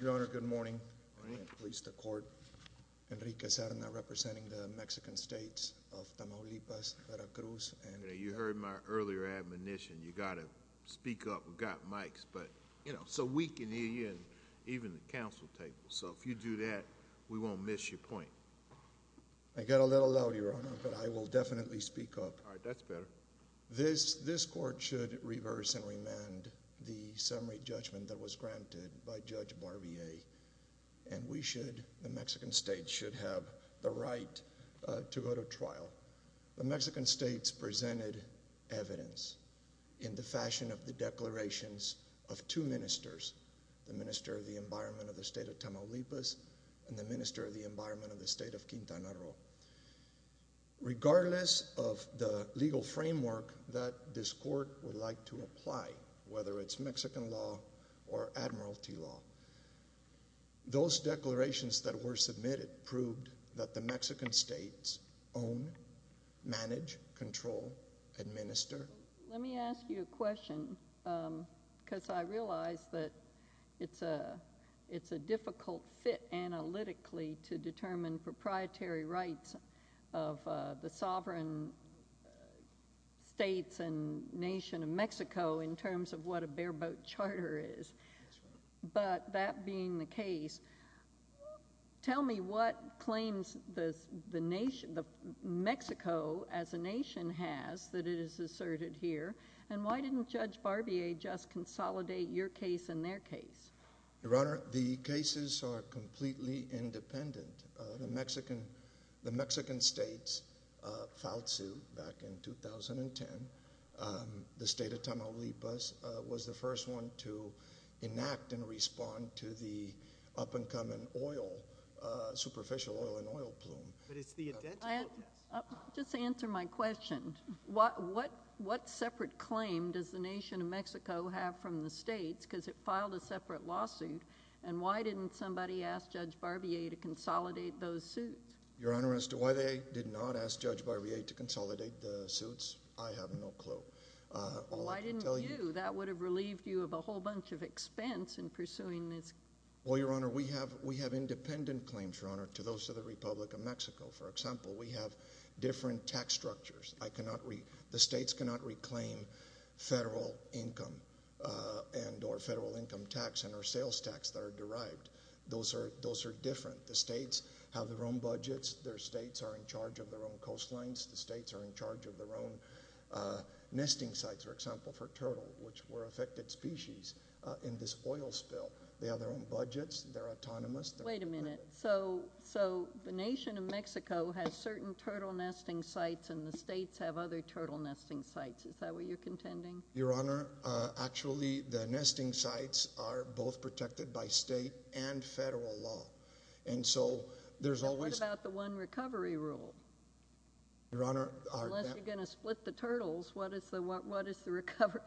Your Honor, good morning. I am pleased to court Enrique Cerna representing the Mexican States of Tamaulipas, Veracruz. You heard my earlier admonition, you got to speak up. We've got mics, but you know, so we can hear you and even the council table. So if you do that, we won't miss your point. I got a little loud, Your Honor, but I will definitely speak up. All right, that's better. This court should reverse and it was granted by Judge Barbier, and we should, the Mexican States should have the right to go to trial. The Mexican States presented evidence in the fashion of the declarations of two ministers, the Minister of the Environment of the State of Tamaulipas and the Minister of the Environment of the State of Quintana Roo. Regardless of the legal framework that this court would like to apply, whether it's Mexican law or admiralty law, those declarations that were submitted proved that the Mexican States own, manage, control, administer. Let me ask you a question, because I realize that it's a difficult fit analytically to determine proprietary rights of the sovereign states and nation of Mexico in terms of what a bare boat charter is, but that being the case, tell me what claims the nation, Mexico as a nation has that it is asserted here, and why didn't Judge Barbier just consolidate your case and their case? Your Honor, the cases are completely independent. The Mexican States, FAUTSU, and the Mexican State of Tamaulipas sued back in 2010. The State of Tamaulipas was the first one to enact and respond to the up-and-coming oil, superficial oil and oil plume. Just answer my question. What separate claim does the nation of Mexico have from the states, because it filed a separate lawsuit, and why didn't somebody ask Judge Barbier to consolidate those suits? Your Honor, as to why they did not ask Judge Barbier to consolidate the suits, I have no clue. Why didn't you? That would have relieved you of a whole bunch of expense in pursuing this. Well, Your Honor, we have independent claims, Your Honor, to those of the Republic of Mexico. For example, we have different tax structures. The states cannot reclaim federal income and or federal income tax and our sales tax that are derived. Those are different. The states have their own budgets. Their states are in charge of their own coastlines. The states are in charge of their own nesting sites, for example, for turtle, which were affected species in this oil spill. They have their own budgets. They're autonomous. Wait a minute. So the nation of Mexico has certain turtle nesting sites and the states have other turtle nesting sites. Is that what you're contending? Your Honor, actually, the nesting sites are both protected by state and federal law. So there's always... What about the one recovery rule? Your Honor, our... Unless you're going to split the turtles, what is the recovery?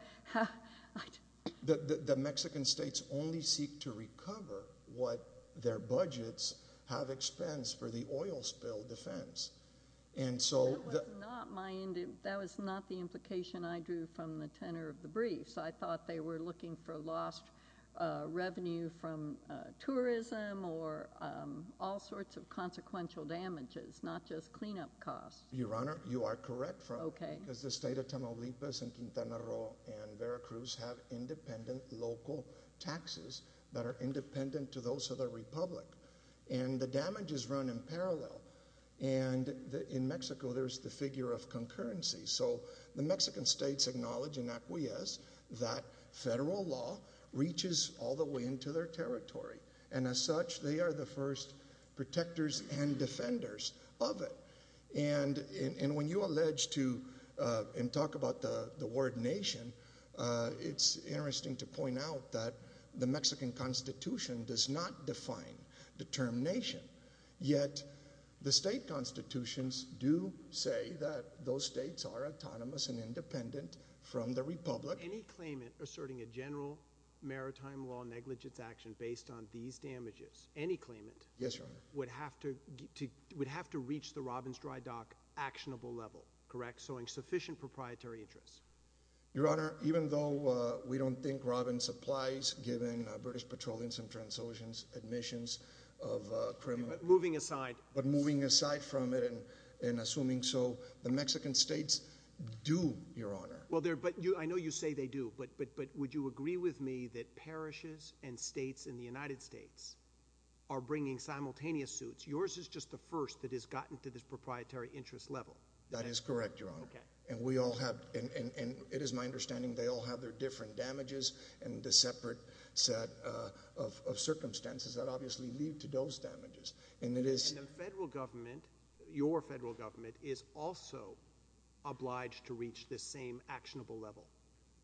The Mexican states only seek to recover what their budgets have expensed for the oil spill defense. And so... That was not the implication I drew from the tenor of the briefs. I thought they were looking for lost revenue from tourism or all sorts of consequential damages, not just cleanup costs. Your Honor, you are correct because the state of Tamaulipas and Quintana Roo and Veracruz have independent local taxes that are independent to those of the republic. And the damage is run in parallel. And in Mexico, there's the figure of concurrency. So the Mexican states acknowledge and acquiesce that federal law reaches all the way into their territory. And as such, they are the first protectors and defenders of it. And when you allege to and talk about the word nation, it's interesting to point out that the Mexican constitution does not define the term nation. Yet, the state constitutions do say that those states are autonomous and independent from the republic. Any claimant asserting a general maritime law negligence action based on these damages, any claimant... Yes, Your Honor. ...would have to reach the Robbins dry dock actionable level, correct? Sowing sufficient proprietary interests. Your Honor, even though we don't think Robbins applies given British Petroleum's and TransOcean's admissions of criminal... Moving aside. ...but moving aside from it and assuming so, the Mexican states do, Your Honor. Well, I know you say they do, but would you agree with me that parishes and states in the United States are bringing simultaneous suits? Yours is just the first that has gotten to this proprietary interest level. That is correct, Your Honor. And it is my understanding they all have their different damages and the separate set of circumstances that obviously lead to those damages. And the federal government, your federal government, is also obliged to reach this same actionable level.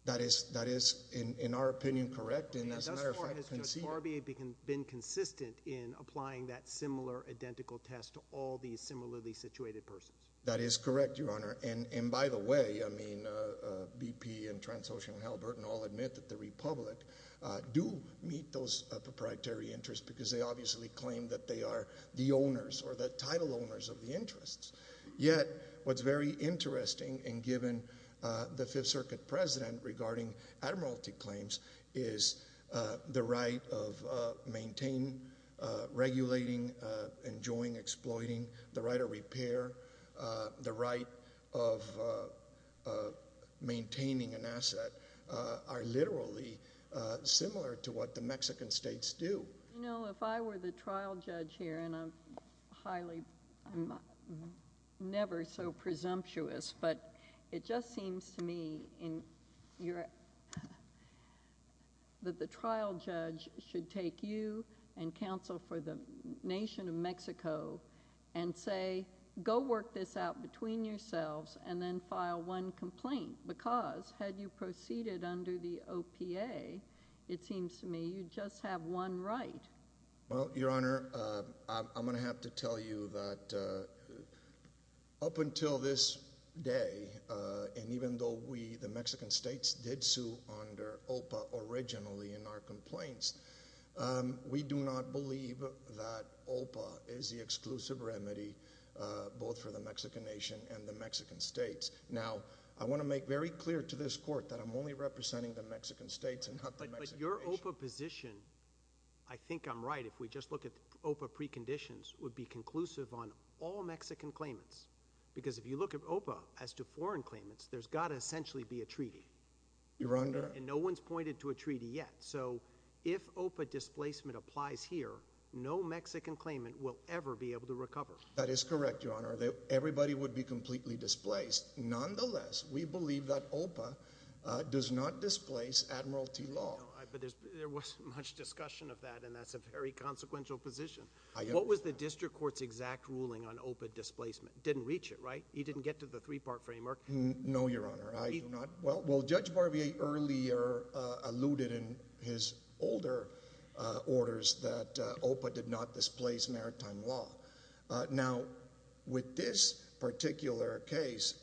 That is, in our opinion, correct. And as a matter of fact, conceded. And thus far, has Judge Barbier been consistent in applying that similar identical test to all these similarly situated persons? That is correct, Your Honor. And by the way, BP and TransOcean and Hal Burton all admit that the republic do meet those proprietary interests because they obviously claim that they are the owners or the title owners of the interests. Yet, what is very interesting and given the Fifth Circuit president regarding admiralty claims is the right of maintaining, regulating, enjoying, exploiting, the right of repair, the right of maintaining an asset are literally similar to what the Mexican states do. You know, if I were the trial judge here, and I'm highly... I'm never so presumptuous, but it just seems to me that the trial judge should take you and counsel for the nation of Mexico and say, go work this out between yourselves and then file one complaint because had you proceeded under the OPA, it seems to me you just have one right. Well, Your Honor, I'm going to have to tell you that up until this day, and even though we, the Mexican states, did sue under OPA originally in our complaints, we do not believe that OPA is the exclusive remedy both for the Mexican nation and the Mexican states. Now, I want to make very clear to this court that I'm only representing the Mexican states and not the Mexican nation. But your OPA position, I think I'm right if we just look at OPA preconditions, would be conclusive on all Mexican claimants because if you look at OPA as to foreign claimants, there's got to essentially be a treaty. Your Honor... And no one's pointed to a treaty yet. So, if OPA displacement applies here, no Mexican claimant will ever be able to recover. That is correct, Your Honor. Everybody would be completely displaced. Nonetheless, we believe that OPA does not displace Admiralty Law. But there wasn't much discussion of that, and that's a very consequential position. What was the district court's exact ruling on OPA displacement? It didn't reach it, right? He didn't get to the three-part framework. No, Your Honor. I do not... Well, Judge Barbier earlier alluded in his older orders that OPA did not displace maritime law. Now, with this particular case,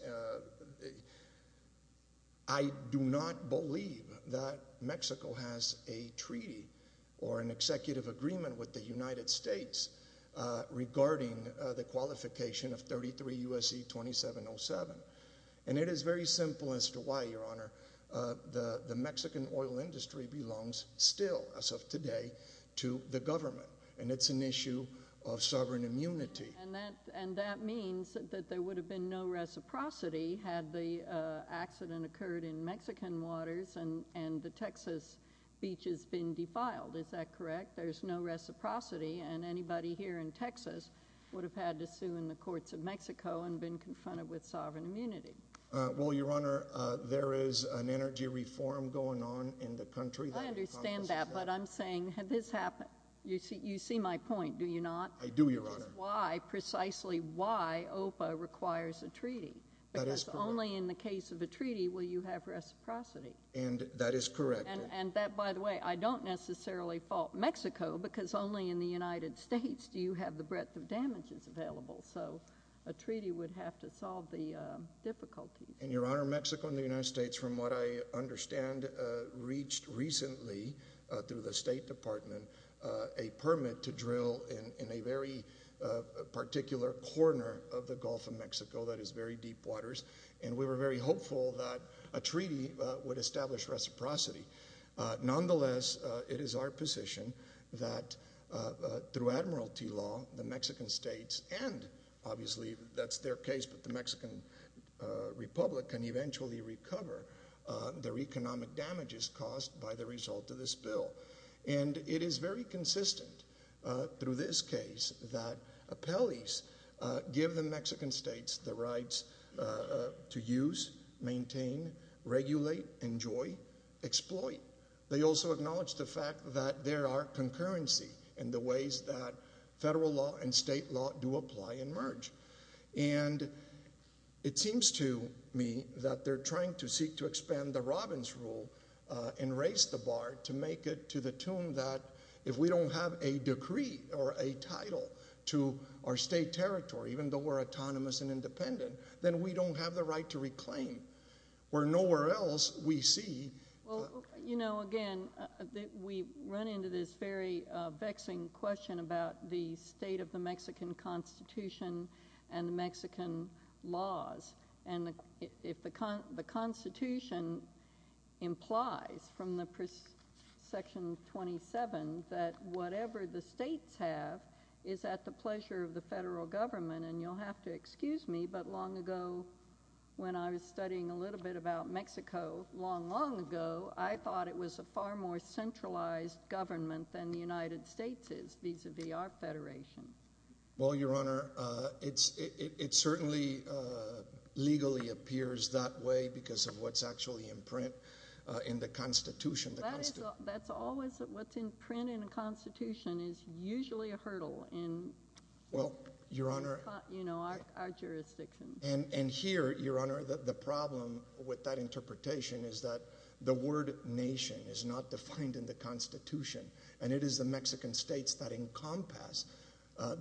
I do not believe that Mexico has a treaty or an executive agreement with the United States regarding the qualification of 33 U.S.C. 2707. And it is very simple as to why, Your Honor. The Mexican oil industry belongs still, as of today, to the government. And it's an issue of sovereign immunity. And that means that there would have been no reciprocity had the accident occurred in Mexican waters and the Texas beaches been defiled. Is that correct? There's no reciprocity, and anybody here in Texas would have had to sue in the courts of Mexico and been confronted with sovereign immunity. Well, Your Honor, there is an energy reform going on in the country that... I understand that, but I'm saying, had this happened... you see my point, do you not? I do, Your Honor. Which is why, precisely why, OPA requires a treaty, because only in the case of a treaty will you have reciprocity. And that is correct. And that, by the way, I don't necessarily fault Mexico, because only in the United States do you have the breadth of damages available. So a treaty would have to solve the difficulties. And, Your Honor, Mexico and the United States, from what I understand, reached recently through the State Department a permit to drill in a very particular corner of the Gulf of Mexico that is very deep waters. And we were very hopeful that a treaty would establish reciprocity. Nonetheless, it is our position that through admiralty law, the Mexican states and, obviously, that's their case, but the Mexican Republic can eventually recover their economic damages caused by the result of this bill. And it is very consistent through this case that appellees give the Mexican states the ploy. They also acknowledge the fact that there are concurrency in the ways that federal law and state law do apply and merge. And it seems to me that they're trying to seek to expand the Robbins rule and raise the bar to make it to the tune that if we don't have a decree or a title to our state territory, even though we're autonomous and independent, then we don't have the right to reclaim. Where nowhere else we see- Well, you know, again, we run into this very vexing question about the state of the Mexican Constitution and the Mexican laws. And if the Constitution implies from Section 27 that whatever the states have is at the pleasure of the federal government, and you'll have to excuse me, but long ago, when I was studying a little bit about Mexico, long, long ago, I thought it was a far more centralized government than the United States is vis-a-vis our federation. Well, Your Honor, it certainly legally appears that way because of what's actually in print in the Constitution. That's always what's in print in the Constitution is usually a hurdle in- Our jurisdiction. And here, Your Honor, the problem with that interpretation is that the word nation is not defined in the Constitution, and it is the Mexican states that encompass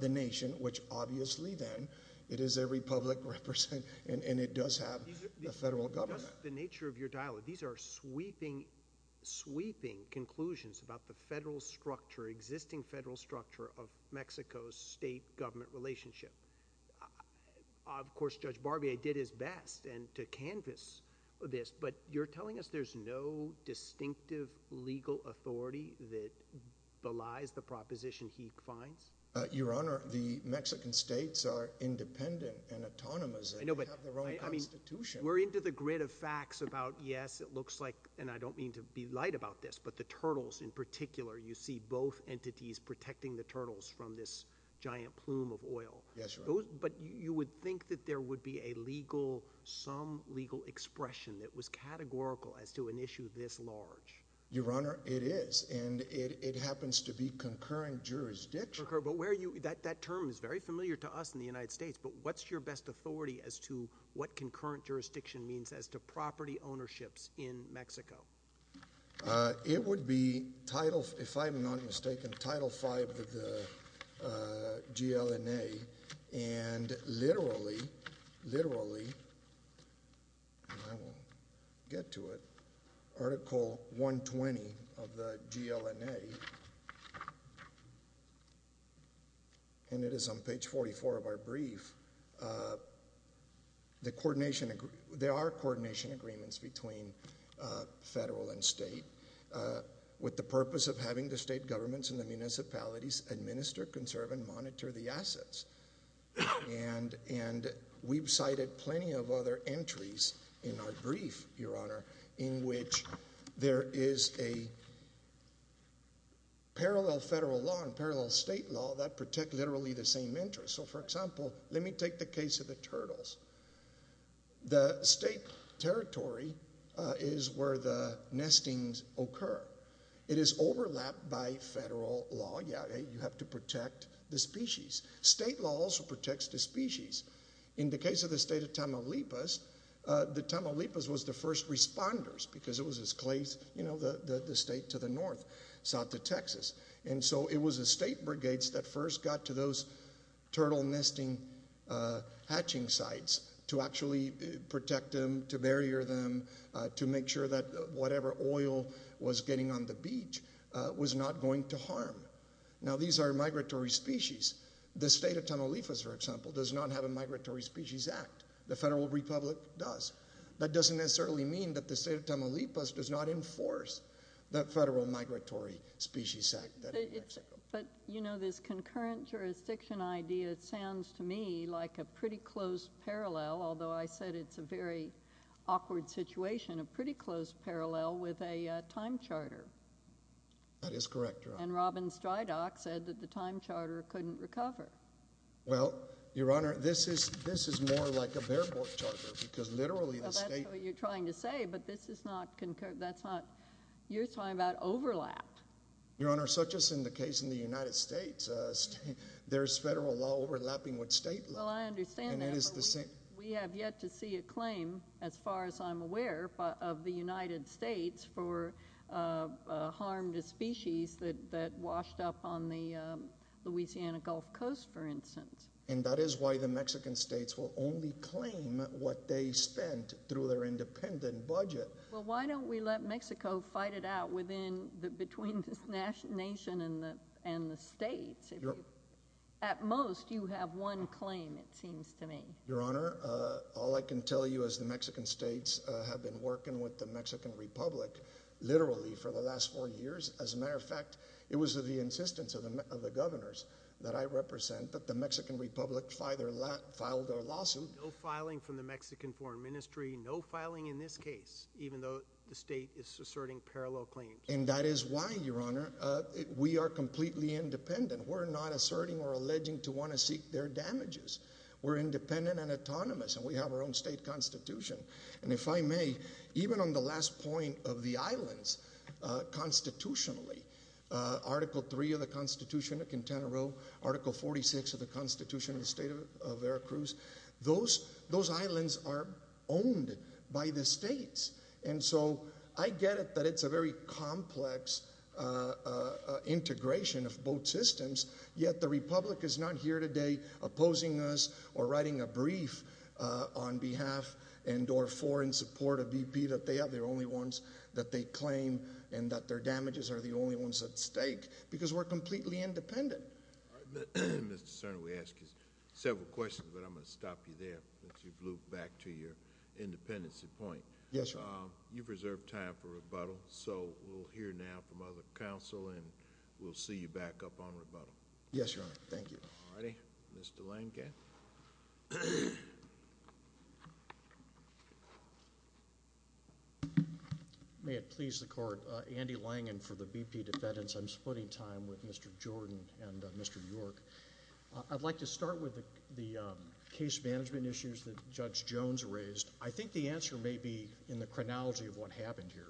the nation, which obviously then it is a republic represented, and it does have a federal government. The nature of your dialogue, these are sweeping, sweeping conclusions about the federal structure, existing federal structure of Mexico's state government relationship. Of course, Judge Barbier did his best to canvas this, but you're telling us there's no distinctive legal authority that belies the proposition he finds? Your Honor, the Mexican states are independent and autonomous and have their own Constitution. We're into the grid of facts about, yes, it looks like, and I don't mean to be light about this, but the turtles in particular, you see both entities protecting the turtles from this giant plume of oil. Yes, Your Honor. But you would think that there would be a legal, some legal expression that was categorical as to an issue this large. Your Honor, it is, and it happens to be concurrent jurisdiction. That term is very familiar to us in the United States, but what's your best authority as to what concurrent jurisdiction means as to property ownerships in Mexico? It would be Title, if I'm not mistaken, Title 5 of the GLNA, and literally, literally, and I won't get to it, Article 120 of the GLNA, and it is on page 44 of our brief, the coordination agreement, there are coordination agreements between federal and state with the purpose of having the state governments and the municipalities administer, conserve, and monitor the assets. And we've cited plenty of other entries in our brief, Your Honor, in which there is a parallel federal law and parallel state law that protect literally the same interests. So for example, let me take the case of the turtles. The state territory is where the nestings occur. It is overlapped by federal law, yeah, you have to protect the species. State law also protects the species. In the case of the state of Tamaulipas, the Tamaulipas was the first responders, because it was as close, you know, the state to the north, south to Texas. And so it was the state brigades that first got to those turtle nesting hatching sites to actually protect them, to barrier them, to make sure that whatever oil was getting on the beach was not going to harm. Now these are migratory species. The state of Tamaulipas, for example, does not have a Migratory Species Act. The federal republic does. That doesn't necessarily mean that the state of Tamaulipas does not enforce that federal Migratory Species Act that in Mexico. But, you know, this concurrent jurisdiction idea sounds to me like a pretty close parallel, although I said it's a very awkward situation, a pretty close parallel with a time charter. That is correct, Your Honor. And Robin Strydock said that the time charter couldn't recover. Well, Your Honor, this is more like a bare board charter, because literally the state- Well, that's what you're trying to say, but this is not concurrent. That's not- You're talking about overlap. Your Honor, such as in the case in the United States, there's federal law overlapping with state law. Well, I understand that, but we have yet to see a claim, as far as I'm aware, of the United States for harm to species that washed up on the Louisiana Gulf Coast, for instance. And that is why the Mexican states will only claim what they spent through their independent budget. Well, why don't we let Mexico fight it out within, between the nation and the states? At most, you have one claim, it seems to me. Your Honor, all I can tell you is the Mexican states have been working with the Mexican Republic, literally, for the last four years. As a matter of fact, it was the insistence of the governors that I represent that the Mexican Republic file their lawsuit. No filing from the Mexican foreign ministry. No filing in this case, even though the state is asserting parallel claims. And that is why, Your Honor, we are completely independent. We're not asserting or alleging to want to seek their damages. We're independent and autonomous, and we have our own state constitution. And if I may, even on the last point of the islands, constitutionally, Article 3 of the Constitution of Quintana Roo, Article 46 of the Constitution of the State of Veracruz. Those islands are owned by the states. And so, I get it that it's a very complex integration of both systems. Yet, the Republic is not here today opposing us or writing a brief on behalf and or for in support of BP that they are the only ones that they claim and that their damages are the only ones at stake because we're completely independent. All right, Mr. Serna, we asked you several questions, but I'm going to stop you there since you've looped back to your independency point. Yes, Your Honor. You've reserved time for rebuttal. So, we'll hear now from other counsel, and we'll see you back up on rebuttal. Yes, Your Honor. Thank you. All righty. Mr. Langen. May it please the court, Andy Langen for the BP defendants. I'm splitting time with Mr. Jordan and Mr. York. I'd like to start with the case management issues that Judge Jones raised. I think the answer may be in the chronology of what happened here.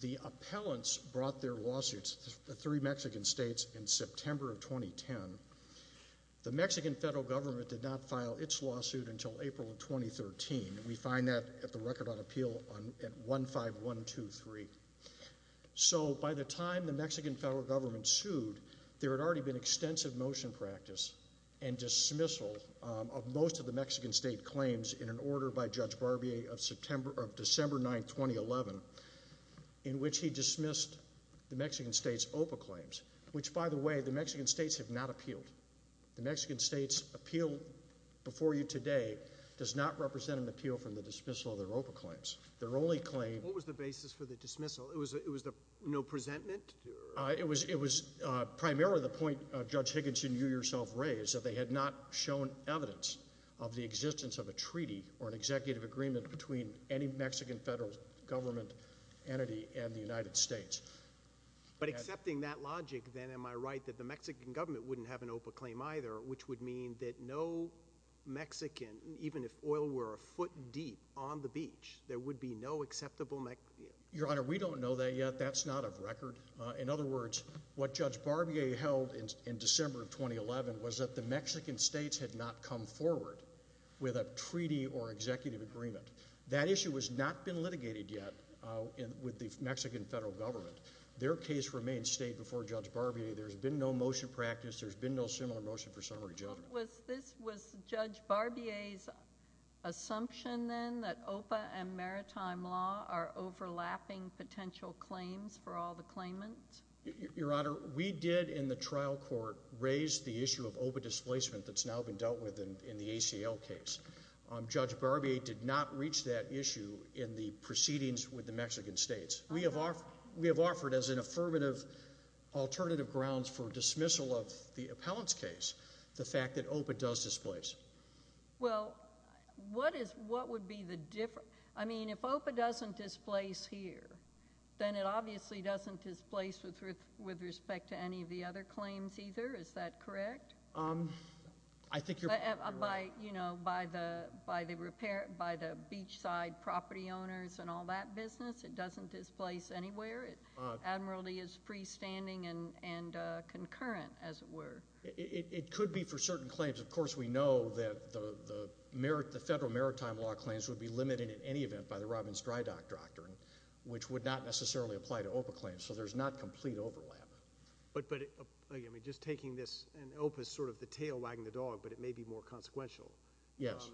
The appellants brought their lawsuits, the three Mexican states, in September of 2010. The Mexican federal government did not file its lawsuit until April of 2013. We find that at the record on appeal at 15123. So, by the time the Mexican federal government sued, there had already been extensive motion practice and dismissal of most of the Mexican state claims in an order by Judge Barbier of December 9, 2011, in which he dismissed the Mexican states' OPA claims, which, by the way, the Mexican states have not appealed. The Mexican states' appeal before you today does not represent an appeal from the dismissal of their OPA claims. Their only claim- What was the basis for the dismissal? It was the no presentment? It was primarily the point Judge Higginson, you yourself raised, that they had not shown evidence of the existence of a treaty or an executive agreement between any Mexican federal government entity and the United States. But accepting that logic, then, am I right that the Mexican government wouldn't have an OPA claim either, which would mean that no Mexican, even if oil were a foot deep on the beach, there would be no acceptable- Your Honor, we don't know that yet. That's not of record. In other words, what Judge Barbier held in December of 2011 was that the Mexican states had not come forward with a treaty or executive agreement. That issue has not been litigated yet with the Mexican federal government. Their case remains state before Judge Barbier. There's been no motion practice. There's been no similar motion for summary judgment. This was Judge Barbier's assumption, then, that OPA and maritime law are overlapping potential claims for all the claimants? Your Honor, we did, in the trial court, raise the issue of OPA displacement that's now been dealt with in the ACL case. Judge Barbier did not reach that issue in the proceedings with the Mexican states. We have offered as an affirmative alternative grounds for that OPA does displace. Well, what would be the difference? I mean, if OPA doesn't displace here, then it obviously doesn't displace with respect to any of the other claims either, is that correct? I think you're- By the beachside property owners and all that business, it doesn't displace anywhere, admiralty is freestanding and concurrent, as it were. It could be for certain claims. Of course, we know that the federal maritime law claims would be limited, in any event, by the Robbins-Drydock Doctrine, which would not necessarily apply to OPA claims, so there's not complete overlap. But again, just taking this, and OPA's sort of the tail wagging the dog, but it may be more consequential. Yes.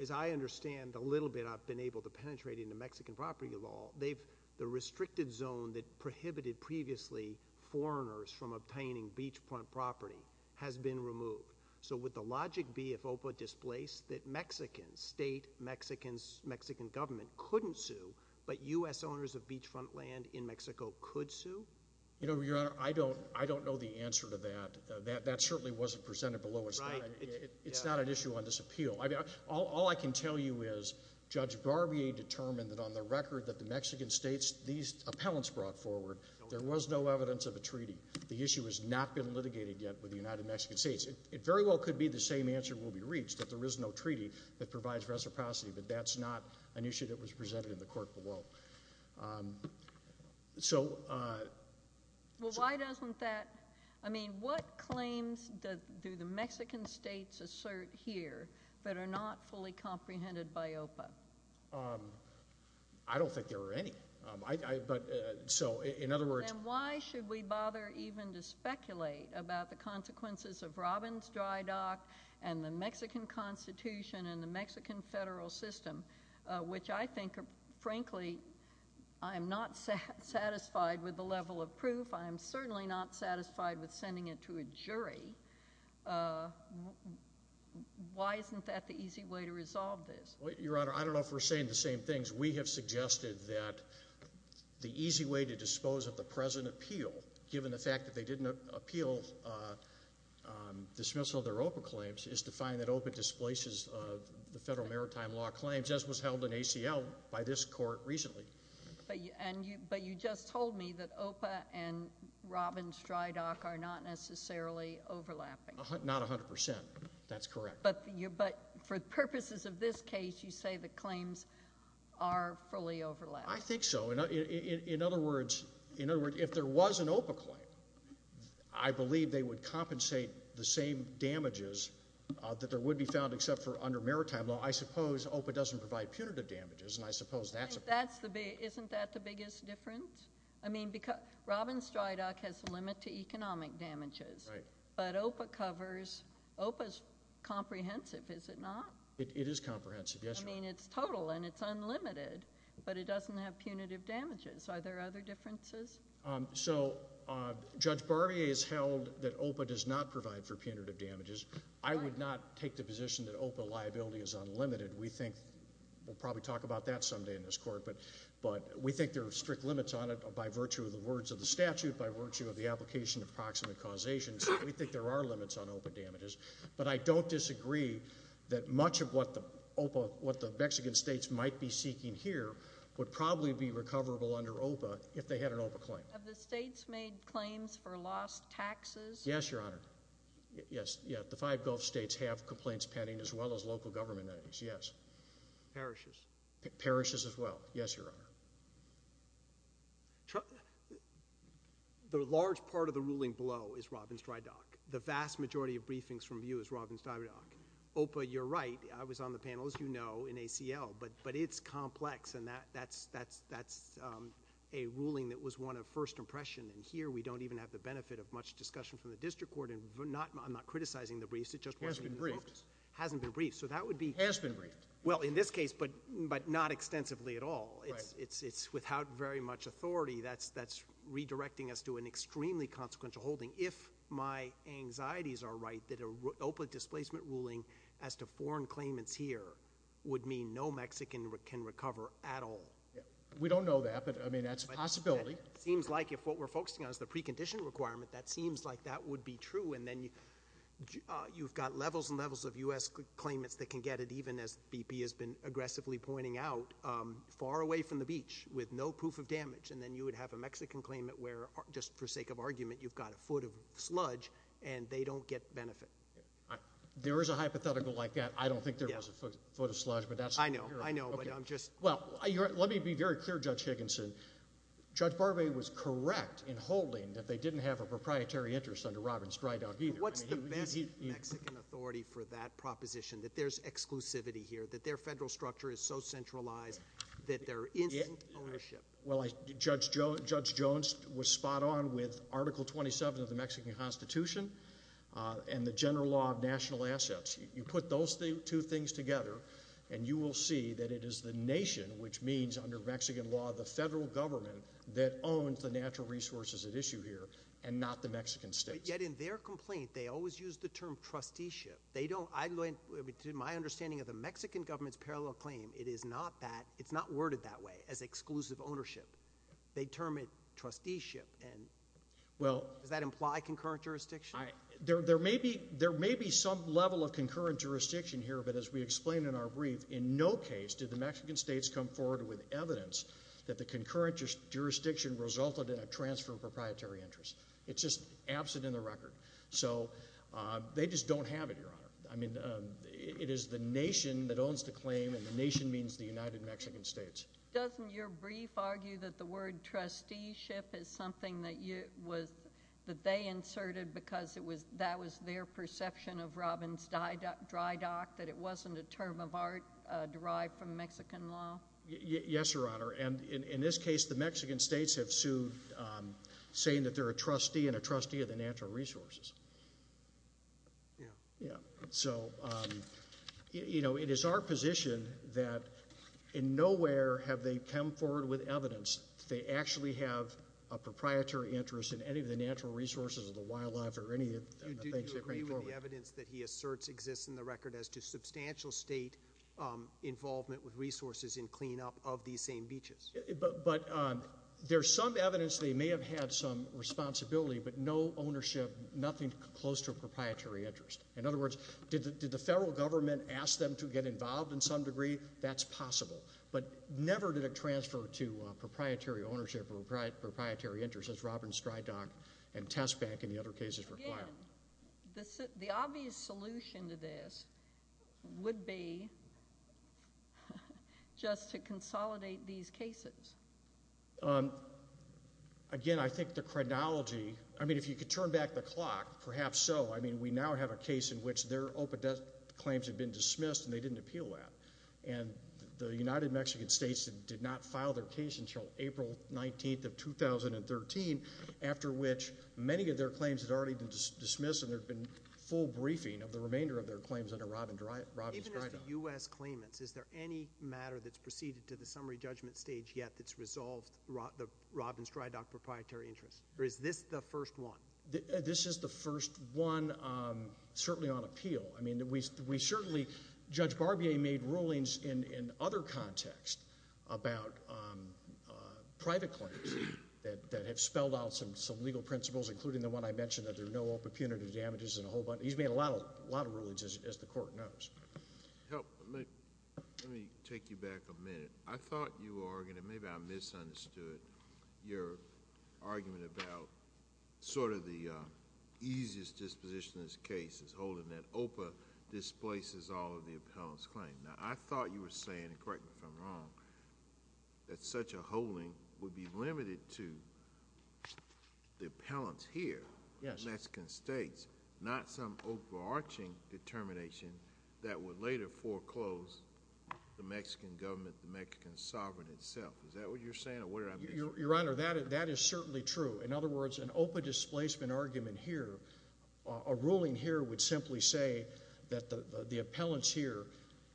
As I understand a little bit, I've been able to penetrate into Mexican property law. They've, the restricted zone that prohibited previously foreigners from obtaining beachfront property has been removed. So would the logic be if OPA displaced that Mexicans, state Mexicans, Mexican government couldn't sue, but US owners of beachfront land in Mexico could sue? You know, your honor, I don't know the answer to that. That certainly wasn't presented below us. Right. It's not an issue on this appeal. All I can tell you is, Judge Barbier determined that on the record that the Mexican states, these appellants brought forward, there was no evidence of a treaty. The issue has not been litigated yet with the United Mexican States. It very well could be the same answer will be reached, that there is no treaty that provides reciprocity, but that's not an issue that was presented in the court below. So. Well, why doesn't that, I mean, what claims do the Mexican states assert here, that are not fully comprehended by OPA? I don't think there are any. I, I, but, so, in other words. Then why should we bother even to speculate about the consequences of Robbins Dry Dock, and the Mexican constitution, and the Mexican federal system? Which I think, frankly, I am not satisfied with the level of proof. I am certainly not satisfied with sending it to a jury. Why isn't that the easy way to resolve this? Well, your honor, I don't know if we're saying the same things. We have suggested that the easy way to dispose of the present appeal, given the fact that they didn't appeal dismissal of their OPA claims, is to find that OPA displaces the federal maritime law claims, as was held in ACL by this court recently. But you just told me that OPA and Robbins Dry Dock are not necessarily overlapping. Not 100%, that's correct. But you, but for purposes of this case, you say the claims are fully overlapped. I think so. In, in, in, in other words, in other words, if there was an OPA claim, I believe they would compensate the same damages that there would be found except for under maritime law. I suppose OPA doesn't provide punitive damages, and I suppose that's. That's the big, isn't that the biggest difference? I mean, because Robbins Dry Dock has a limit to economic damages. Right. But OPA covers, OPA's comprehensive, is it not? It, it is comprehensive, yes. I mean, it's total, and it's unlimited, but it doesn't have punitive damages. Are there other differences? So, Judge Barbier has held that OPA does not provide for punitive damages. I would not take the position that OPA liability is unlimited. We think, we'll probably talk about that someday in this court, but, but we think there are strict limits on it by virtue of the words of the statute, by virtue of the application of proximate causations. We think there are limits on OPA damages. But I don't disagree that much of what the OPA, what the Mexican states might be seeking here, would probably be recoverable under OPA if they had an OPA claim. Have the states made claims for lost taxes? Yes, Your Honor. Yes, yeah, the five Gulf states have complaints pending as well as local government entities, yes. Parishes. Parishes as well. Yes, Your Honor. The large part of the ruling below is Robbins-Drydock. The vast majority of briefings from you is Robbins-Drydock. OPA, you're right, I was on the panel, as you know, in ACL, but it's complex, and that's a ruling that was one of first impression, and here we don't even have the benefit of much discussion from the district court, and I'm not criticizing the briefs. It just wasn't in the books. Has been briefed. Hasn't been briefed, so that would be- Has been briefed. Well, in this case, but not extensively at all. It's without very much authority, that's redirecting us to an extremely consequential holding. If my anxieties are right, that an OPA displacement ruling as to foreign claimants here would mean no Mexican can recover at all. We don't know that, but I mean, that's a possibility. Seems like if what we're focusing on is the precondition requirement, that seems like that would be true, and then you've got levels and levels of US claimants that can get it, even as BP has been aggressively pointing out, far away from the beach with no proof of damage. And then you would have a Mexican claimant where, just for sake of argument, you've got a foot of sludge, and they don't get benefit. There is a hypothetical like that. I don't think there was a foot of sludge, but that's- I know, I know, but I'm just- Well, let me be very clear, Judge Higginson. Judge Barbee was correct in holding that they didn't have a proprietary interest under Robbins-Drydog either. What's the best Mexican authority for that proposition, that there's exclusivity here, that their federal structure is so centralized that there isn't ownership? Well, Judge Jones was spot on with Article 27 of the Mexican Constitution, and the general law of national assets. You put those two things together, and you will see that it is the nation, which means under Mexican law, the federal government that owns the natural resources at issue here, and not the Mexican states. Yet in their complaint, they always use the term trusteeship. They don't, to my understanding of the Mexican government's parallel claim, it is not that, it's not worded that way, as exclusive ownership. They term it trusteeship, and does that imply concurrent jurisdiction? There may be some level of concurrent jurisdiction here, but as we explained in our brief, in no case did the Mexican states come forward with evidence that the concurrent jurisdiction resulted in a transfer of proprietary interest. It's just absent in the record. So, they just don't have it, Your Honor. I mean, it is the nation that owns the claim, and the nation means the United Mexican States. Doesn't your brief argue that the word trusteeship is something that they inserted because that was their perception of Robbins Dry Dock, that it wasn't a term of art derived from Mexican law? Yes, Your Honor, and in this case, the Mexican states have sued, saying that they're a trustee, and a trustee of the natural resources. Yeah, so, it is our position that in nowhere have they come forward with evidence. They actually have a proprietary interest in any of the natural resources of the wildlife or any of the things they bring forward. Do you agree with the evidence that he asserts exists in the record as to substantial state involvement with resources in cleanup of these same beaches? But there's some evidence they may have had some responsibility, but no ownership, nothing close to a proprietary interest. In other words, did the federal government ask them to get involved in some degree? That's possible. But never did it transfer to proprietary ownership or proprietary interest, as Robbins Dry Dock and Test Bank and the other cases require. Again, the obvious solution to this would be just to consolidate these cases. Again, I think the chronology, I mean, if you could turn back the clock, perhaps so. I mean, we now have a case in which their open desk claims have been dismissed, and they didn't appeal that. And the United Mexican states did not file their case until April 19th of 2013, after which many of their claims had already been dismissed, and there'd been full briefing of the remainder of their claims under Robbins Dry Dock. Even as the US claimants, is there any matter that's proceeded to the summary judgment stage yet that's resolved the Robbins Dry Dock proprietary interest, or is this the first one? This is the first one, certainly on appeal. I mean, we certainly, Judge Barbier made rulings in other context about private claims that have spelled out some legal principles, including the one I mentioned, that there are no open punitive damages in a whole bunch. He's made a lot of rulings, as the court knows. Help, let me take you back a minute. I thought you were arguing, and maybe I misunderstood your argument about sort of the easiest disposition in this case is holding that OPA displaces all of the appellant's claim. Now, I thought you were saying, and correct me if I'm wrong, that such a holding would be limited to the appellants here, the Mexican states, not some overarching determination that would later foreclose the Mexican government, the Mexican sovereign itself. Is that what you're saying, or what did I miss? Your Honor, that is certainly true. In other words, an OPA displacement argument here, a ruling here would simply say that the appellants here,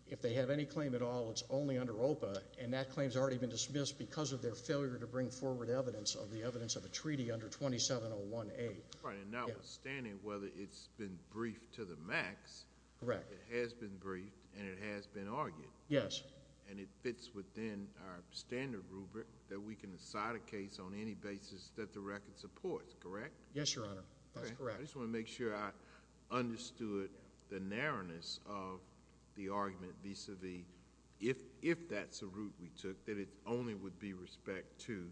if they have any claim at all, it's only under OPA, and that claim's already been dismissed because of their failure to bring forward evidence of the evidence of a treaty under 2701A. Right, and notwithstanding whether it's been briefed to the max. Correct. It has been briefed, and it has been argued. Yes. And it fits within our standard rubric that we can decide a case on any basis that the record supports, correct? Yes, Your Honor, that's correct. I just want to make sure I understood the narrowness of the argument vis-a-vis, if that's the route we took, that it only would be respect to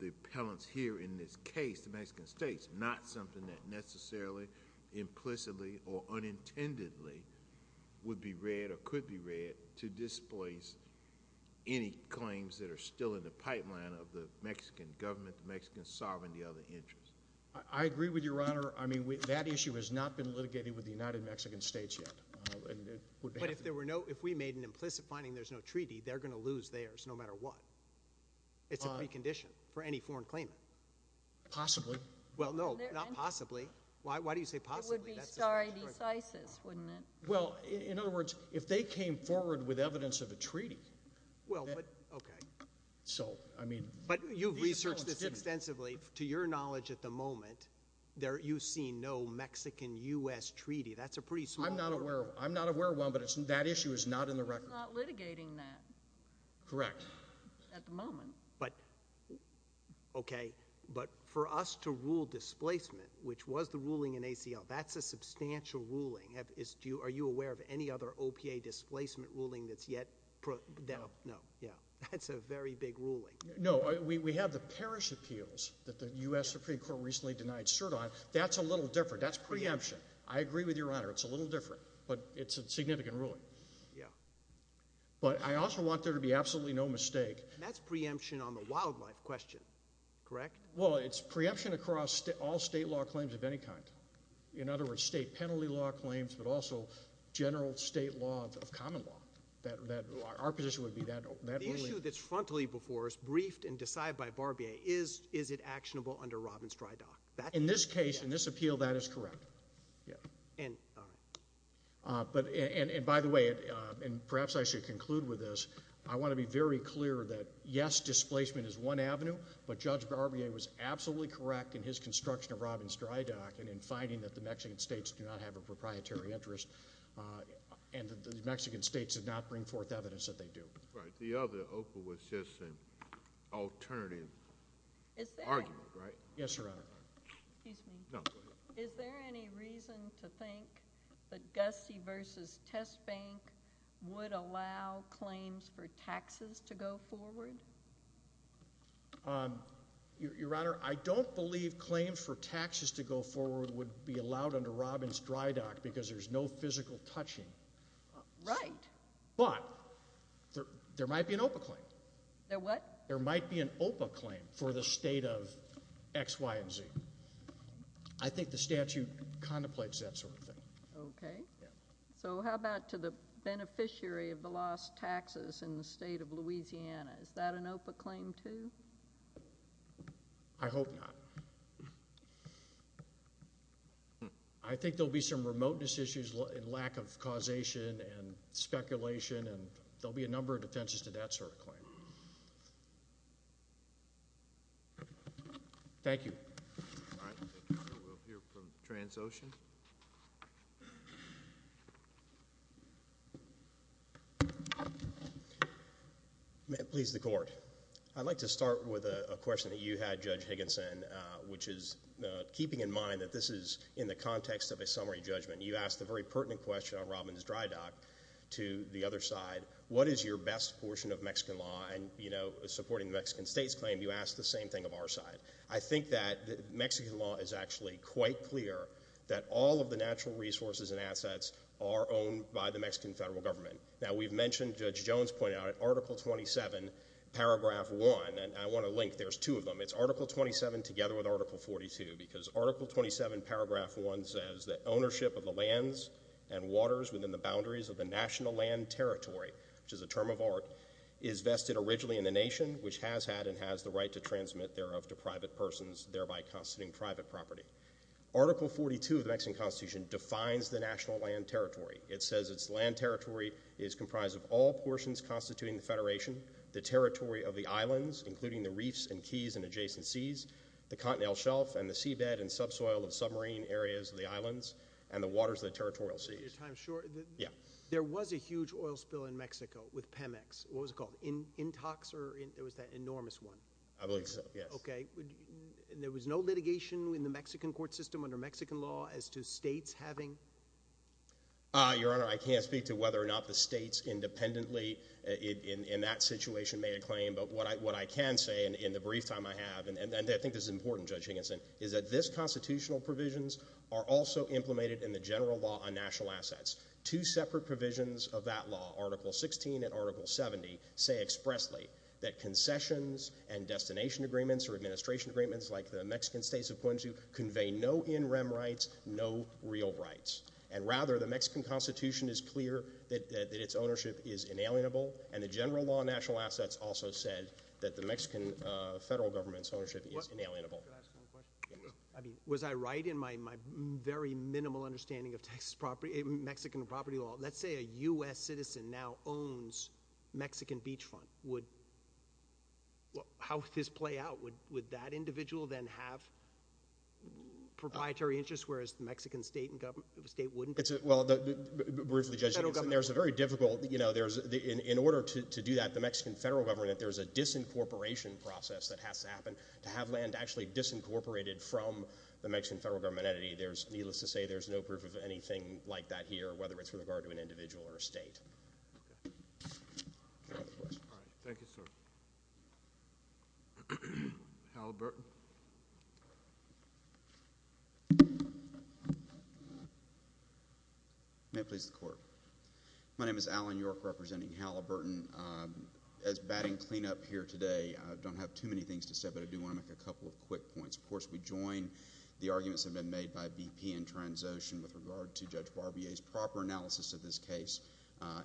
the appellants here in this case, the Mexican states, not something that necessarily, implicitly, or unintendedly would be read or could be read to displace any claims that are still in the pipeline of the Mexican government, the Mexican sovereignty of the interest. I agree with Your Honor. I mean, that issue has not been litigated with the United Mexican States yet, and it would have to. But if there were no, if we made an implicit finding there's no treaty, they're going to lose theirs no matter what. It's a precondition for any foreign claimant. Possibly. Well, no, not possibly. Why do you say possibly? It would be sorry decisis, wouldn't it? Well, in other words, if they came forward with evidence of a treaty. Well, but, okay. So, I mean. But you've researched this extensively. To your knowledge at the moment, you've seen no Mexican-US treaty. That's a pretty small group. I'm not aware of one, but that issue is not in the record. We're not litigating that. Correct. At the moment. But, okay. But for us to rule displacement, which was the ruling in ACL, that's a substantial ruling. Are you aware of any other OPA displacement ruling that's yet, no, yeah, that's a very big ruling. No, we have the parish appeals that the US Supreme Court recently denied cert on. That's a little different. That's preemption. I agree with Your Honor. It's a little different, but it's a significant ruling. Yeah. But I also want there to be absolutely no mistake. That's preemption on the wildlife question, correct? Well, it's preemption across all state law claims of any kind. In other words, state penalty law claims, but also general state law of common law. That, our position would be that ruling. The issue that's frontally before us, briefed and decided by Barbier, is it actionable under Robin's dry dock? In this case, in this appeal, that is correct. Yeah. And, all right. But, and by the way, and perhaps I should conclude with this. I want to be very clear that yes, displacement is one avenue. But Judge Barbier was absolutely correct in his construction of Robin's dry dock and in finding that the Mexican states do not have a proprietary interest. And that the Mexican states did not bring forth evidence that they do. Right, the other OPA was just an alternative argument, right? Yes, Your Honor. Excuse me. No, go ahead. Is there any reason to think that Gusty versus Test Bank would allow claims for taxes to go forward? Your Honor, I don't believe claims for taxes to go forward would be allowed under Robin's dry dock because there's no physical touching. Right. But, there might be an OPA claim. There what? There might be an OPA claim for the state of X, Y, and Z. I think the statute contemplates that sort of thing. Okay. So, how about to the beneficiary of the lost taxes in the state of Louisiana? Is that an OPA claim too? I hope not. I think there'll be some remoteness issues and lack of causation and speculation and there'll be a number of defenses to that sort of claim. Thank you. All right, we'll hear from Transocean. May it please the court. I'd like to start with a question that you had, Judge Higginson, which is keeping in mind that this is in the context of a summary judgment. You asked a very pertinent question on Robin's dry dock to the other side. What is your best portion of Mexican law? And, you know, supporting the Mexican state's claim, you asked the same thing of our side. I think that Mexican law is actually quite clear that all of the natural resources and assets are owned by the Mexican federal government. Now, we've mentioned, Judge Jones pointed out, in Article 27, Paragraph 1, and I want to link, there's two of them. It's Article 27 together with Article 42, because Article 27, Paragraph 1 says that ownership of the lands and waters within the boundaries of the national land territory, which is a term of art, is vested originally in the nation, which has had and has the right to transmit thereof to private persons, thereby constituting private property. Article 42 of the Mexican Constitution defines the national land territory. It says its land territory is comprised of all portions constituting the federation, the territory of the islands, including the reefs and keys and adjacent seas, the continental shelf and the seabed and subsoil of submarine areas of the islands, and the waters of the territorial seas. Your time's short. Yeah. What was it called? Intox, or there was that enormous one? I believe so, yes. Okay. And there was no litigation in the Mexican court system under Mexican law as to states having? Your Honor, I can't speak to whether or not the states independently in that situation made a claim. But what I can say, in the brief time I have, and I think this is important, Judge Higginson, is that this constitutional provisions are also implemented in the general law on national assets. Two separate provisions of that law, Article 16 and Article 70, say expressly that concessions and destination agreements or administration agreements like the Mexican states have pointed to convey no in rem rights, no real rights. And rather, the Mexican Constitution is clear that its ownership is inalienable, and the general law on national assets also said that the Mexican federal government's ownership is inalienable. Can I ask one question? I mean, was I right in my very minimal understanding of Mexican property law? Let's say a US citizen now owns Mexican beachfront. How would this play out? Would that individual then have proprietary interest, whereas the Mexican state wouldn't? Well, briefly, Judge Higginson, there's a very difficult, in order to do that, with the Mexican federal government, there's a disincorporation process that has to happen. To have land actually disincorporated from the Mexican federal government entity, there's, needless to say, there's no proof of anything like that here, whether it's with regard to an individual or a state. All right, thank you, sir. Halliburton? May it please the court. My name is Alan York, representing Halliburton. As batting cleanup here today, I don't have too many things to say, but I do want to make a couple of quick points. Of course, we join the arguments that have been made by VP in transition with regard to Judge Barbier's proper analysis of this case.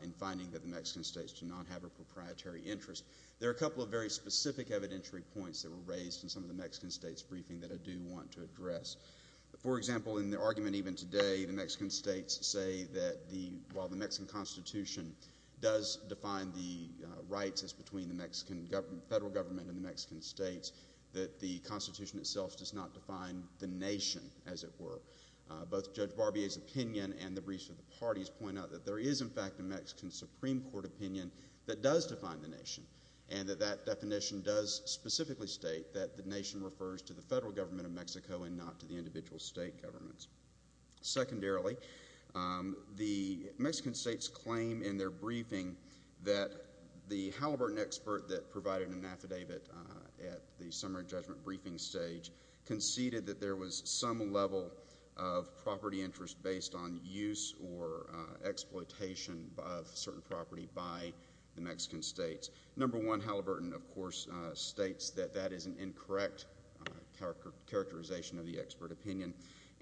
In finding that the Mexican states do not have a proprietary interest. There are a couple of very specific evidentiary points that were raised in some of the Mexican states' briefing that I do want to address. For example, in the argument even today, the Mexican states say that the, while the Mexican constitution does define the rights as between the Mexican federal government and the Mexican states, that the constitution itself does not define the nation, as it were. Both Judge Barbier's opinion and the briefs of the parties point out that there is, in fact, a Mexican Supreme Court opinion that does define the nation. And that that definition does specifically state that the nation refers to the federal government of Mexico and not to the individual state governments. Secondarily, the Mexican states claim in their briefing that the Halliburton expert that provided an affidavit at the summary judgment briefing stage conceded that there was some level of property interest based on use or exploitation of certain property by the Mexican states. Number one, Halliburton, of course, states that that is an incorrect characterization of the expert opinion.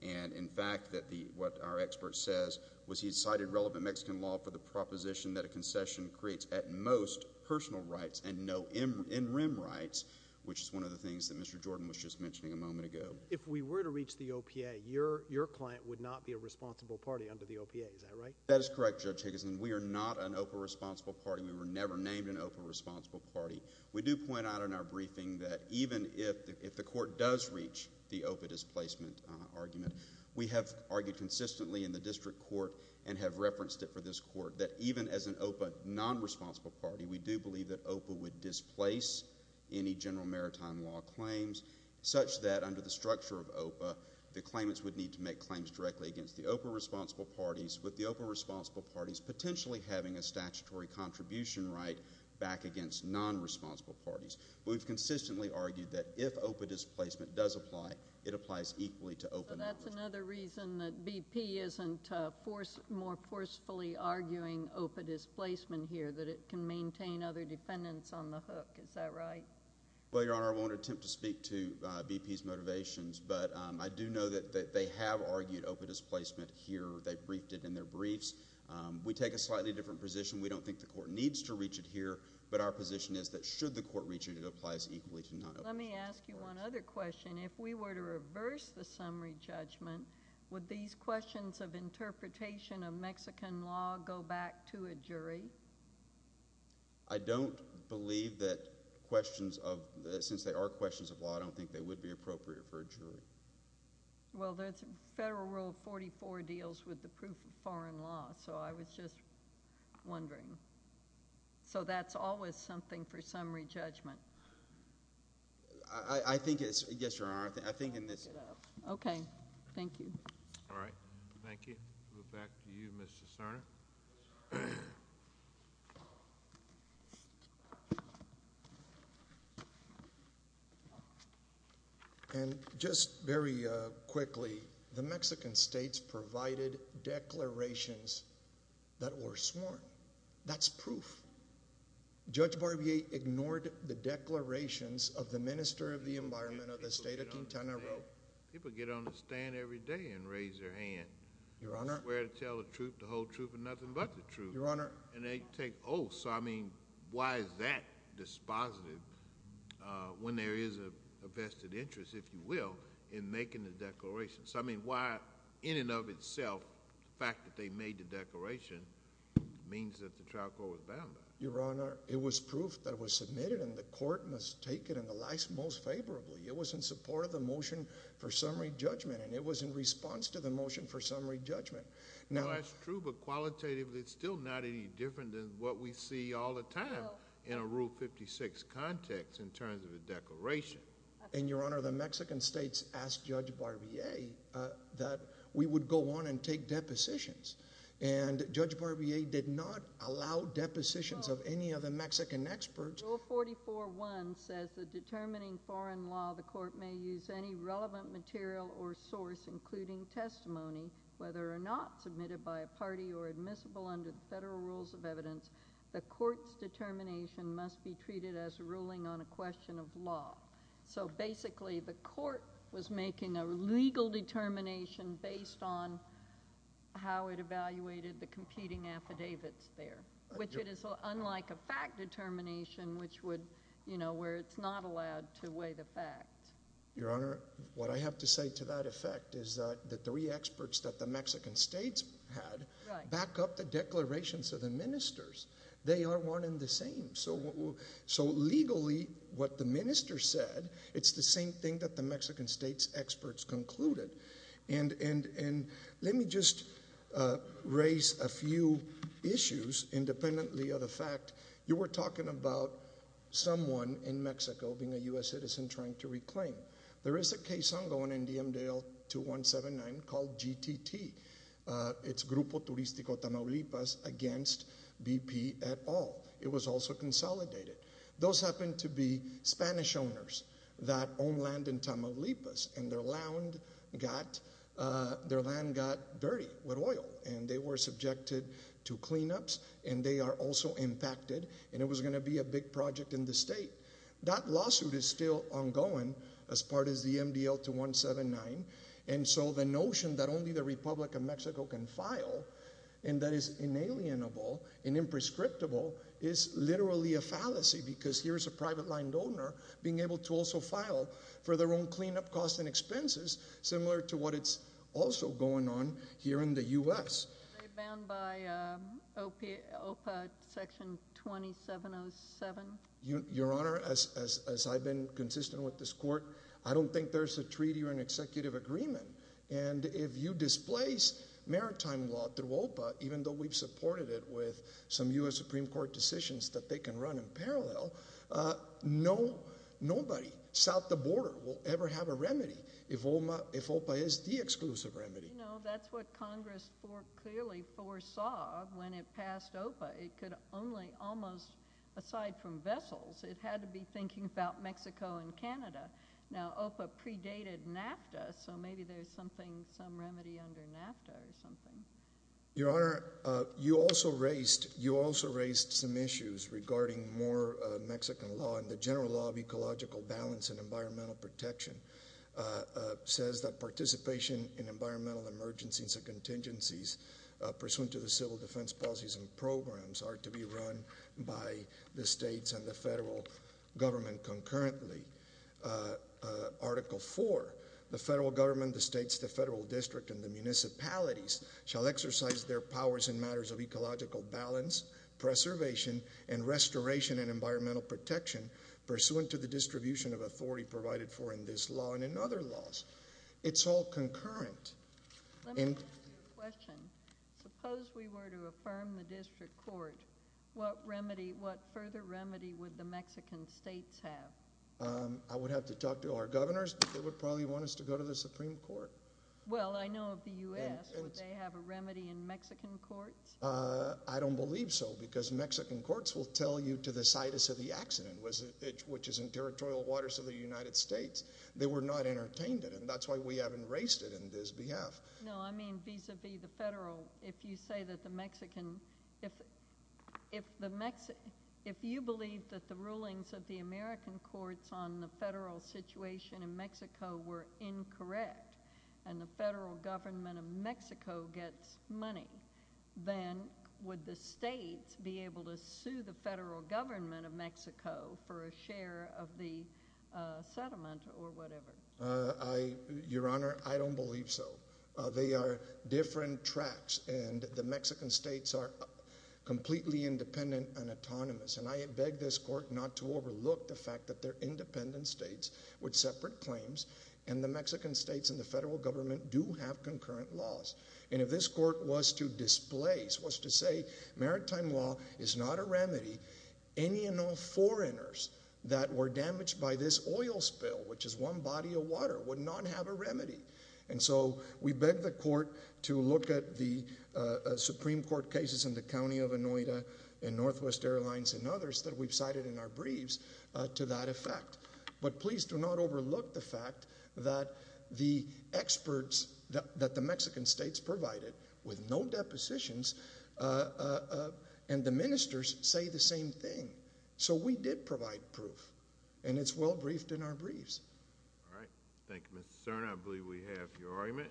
And in fact, what our expert says was he cited relevant Mexican law for the proposition that a concession creates, at most, personal rights and no in-rim rights, which is one of the things that Mr. Jordan was just mentioning a moment ago. If we were to reach the OPA, your client would not be a responsible party under the OPA, is that right? That is correct, Judge Higginson. We are not an OPA responsible party. We were never named an OPA responsible party. We do point out in our briefing that even if the court does reach the OPA displacement argument, we have argued consistently in the district court and have referenced it for this court that even as an OPA non-responsible party, we do believe that OPA would displace any general maritime law claims such that under the structure of OPA, the claimants would need to make claims directly against the OPA responsible parties, with the OPA responsible parties potentially having a statutory contribution right back against non-responsible parties. We've consistently argued that if OPA displacement does apply, it applies equally to OPA. So that's another reason that BP isn't more forcefully arguing OPA displacement here, that it can maintain other defendants on the hook, is that right? Well, Your Honor, I won't attempt to speak to BP's motivations, but I do know that they have argued OPA displacement here. They've briefed it in their briefs. We take a slightly different position. We don't think the court needs to reach it here. But our position is that should the court reach it, it applies equally to non-OPA. Let me ask you one other question. If we were to reverse the summary judgment, would these questions of interpretation of Mexican law go back to a jury? I don't believe that questions of, since they are questions of law, I don't think they would be appropriate for a jury. Well, there's a federal rule of 44 deals with the proof of foreign law, so I was just wondering. So that's always something for summary judgment. I think it's, yes, Your Honor, I think in this- Okay, thank you. All right, thank you. Move back to you, Mr. Cerny. And just very quickly, the Mexican states provided declarations that were sworn. That's proof. Judge Barbier ignored the declarations of the Minister of the Environment of the state of Quintana Roo. People get on the stand every day and raise their hand. Your Honor. Swear to tell the truth, the whole truth, and nothing but the truth. Your Honor. And they take oaths, so I mean, why is that dispositive when there is a vested interest, if you will, in making the declaration? So I mean, why, in and of itself, the fact that they made the declaration means that the trial court was bound by it? Your Honor, it was proof that was submitted and the court must take it in the light most favorably. It was in support of the motion for summary judgment, and it was in response to the motion for summary judgment. Now- Well, that's true, but qualitatively, it's still not any different than what we see all the time in a Rule 56 context in terms of a declaration. And, Your Honor, the Mexican states asked Judge Barbier that we would go on and take depositions. And Judge Barbier did not allow depositions of any of the Mexican experts. Rule 44-1 says that determining foreign law, the court may use any relevant material or source, including testimony. Whether or not submitted by a party or admissible under the federal rules of evidence, the court's determination must be treated as ruling on a question of law. So basically, the court was making a legal determination based on how it evaluated the competing affidavits there, which it is unlike a fact determination, which would, where it's not allowed to weigh the facts. Your Honor, what I have to say to that effect is that the three experts that the Mexican states had back up the declarations of the ministers. They are one and the same. So legally, what the minister said, it's the same thing that the Mexican state's experts concluded. And let me just raise a few issues independently of the fact. You were talking about someone in Mexico being a US citizen trying to reclaim. There is a case ongoing in DM Dale 2179 called GTT. It's Grupo Turistico Tamaulipas against BP et al. It was also consolidated. Those happen to be Spanish owners that own land in Tamaulipas, and their land got dirty with oil, and they were subjected to cleanups, and they are also impacted, and it was going to be a big project in the state. That lawsuit is still ongoing as part of the MDL 2179, and so the notion that only the Republic of Mexico can file, and that is inalienable and a fallacy, because here's a private line donor being able to also file for their own cleanup costs and expenses, similar to what is also going on here in the US. They're bound by OPA section 2707. Your Honor, as I've been consistent with this court, I don't think there's a treaty or an executive agreement. And if you displace maritime law through OPA, even though we've supported it with some US Supreme Court decisions that they can run in parallel, nobody south of the border will ever have a remedy if OPA is the exclusive remedy. That's what Congress clearly foresaw when it passed OPA. It could only almost, aside from vessels, it had to be thinking about Mexico and Canada. Now, OPA predated NAFTA, so maybe there's something, some remedy under NAFTA or something. Your Honor, you also raised some issues regarding more Mexican law and the general law of ecological balance and environmental protection. Says that participation in environmental emergencies and contingencies pursuant to the civil defense policies and programs are to be run by the states and the federal government concurrently. Article four, the federal government, the states, the federal district, and the municipalities shall exercise their powers in matters of ecological balance, preservation, and restoration and environmental protection, pursuant to the distribution of authority provided for in this law and in other laws. It's all concurrent. Let me ask you a question. Suppose we were to affirm the district court, what further remedy would the Mexican states have? I would have to talk to our governors, but they would probably want us to go to the Supreme Court. Well, I know of the US, would they have a remedy in Mexican courts? I don't believe so, because Mexican courts will tell you to the situs of the accident, which is in territorial waters of the United States. They were not entertained in it, and that's why we haven't raised it in this behalf. No, I mean vis-a-vis the federal, if you say that the Mexican, if you believe that the rulings of the American courts on the federal situation in Mexico were incorrect, and the federal government of Mexico gets money, then would the states be able to sue the federal government of Mexico for a share of the settlement or whatever? Your Honor, I don't believe so. They are different tracks, and the Mexican states are completely independent and autonomous. And I beg this court not to overlook the fact that they're independent states with separate claims. And the Mexican states and the federal government do have concurrent laws. And if this court was to displace, was to say maritime law is not a remedy, any and all foreigners that were damaged by this oil spill, which is one body of water, would not have a remedy. And so, we beg the court to look at the Supreme Court cases in the county of Inuita and Northwest Airlines and others that we've cited in our briefs to that effect. But please do not overlook the fact that the experts that the Mexican states provided, with no depositions, and the ministers say the same thing. So we did provide proof, and it's well briefed in our briefs. All right, thank you, Mr. Cerna. I believe we have your argument.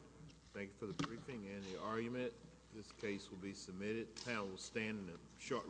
Thank you for the briefing and the argument. This case will be submitted. The panel will stand in a short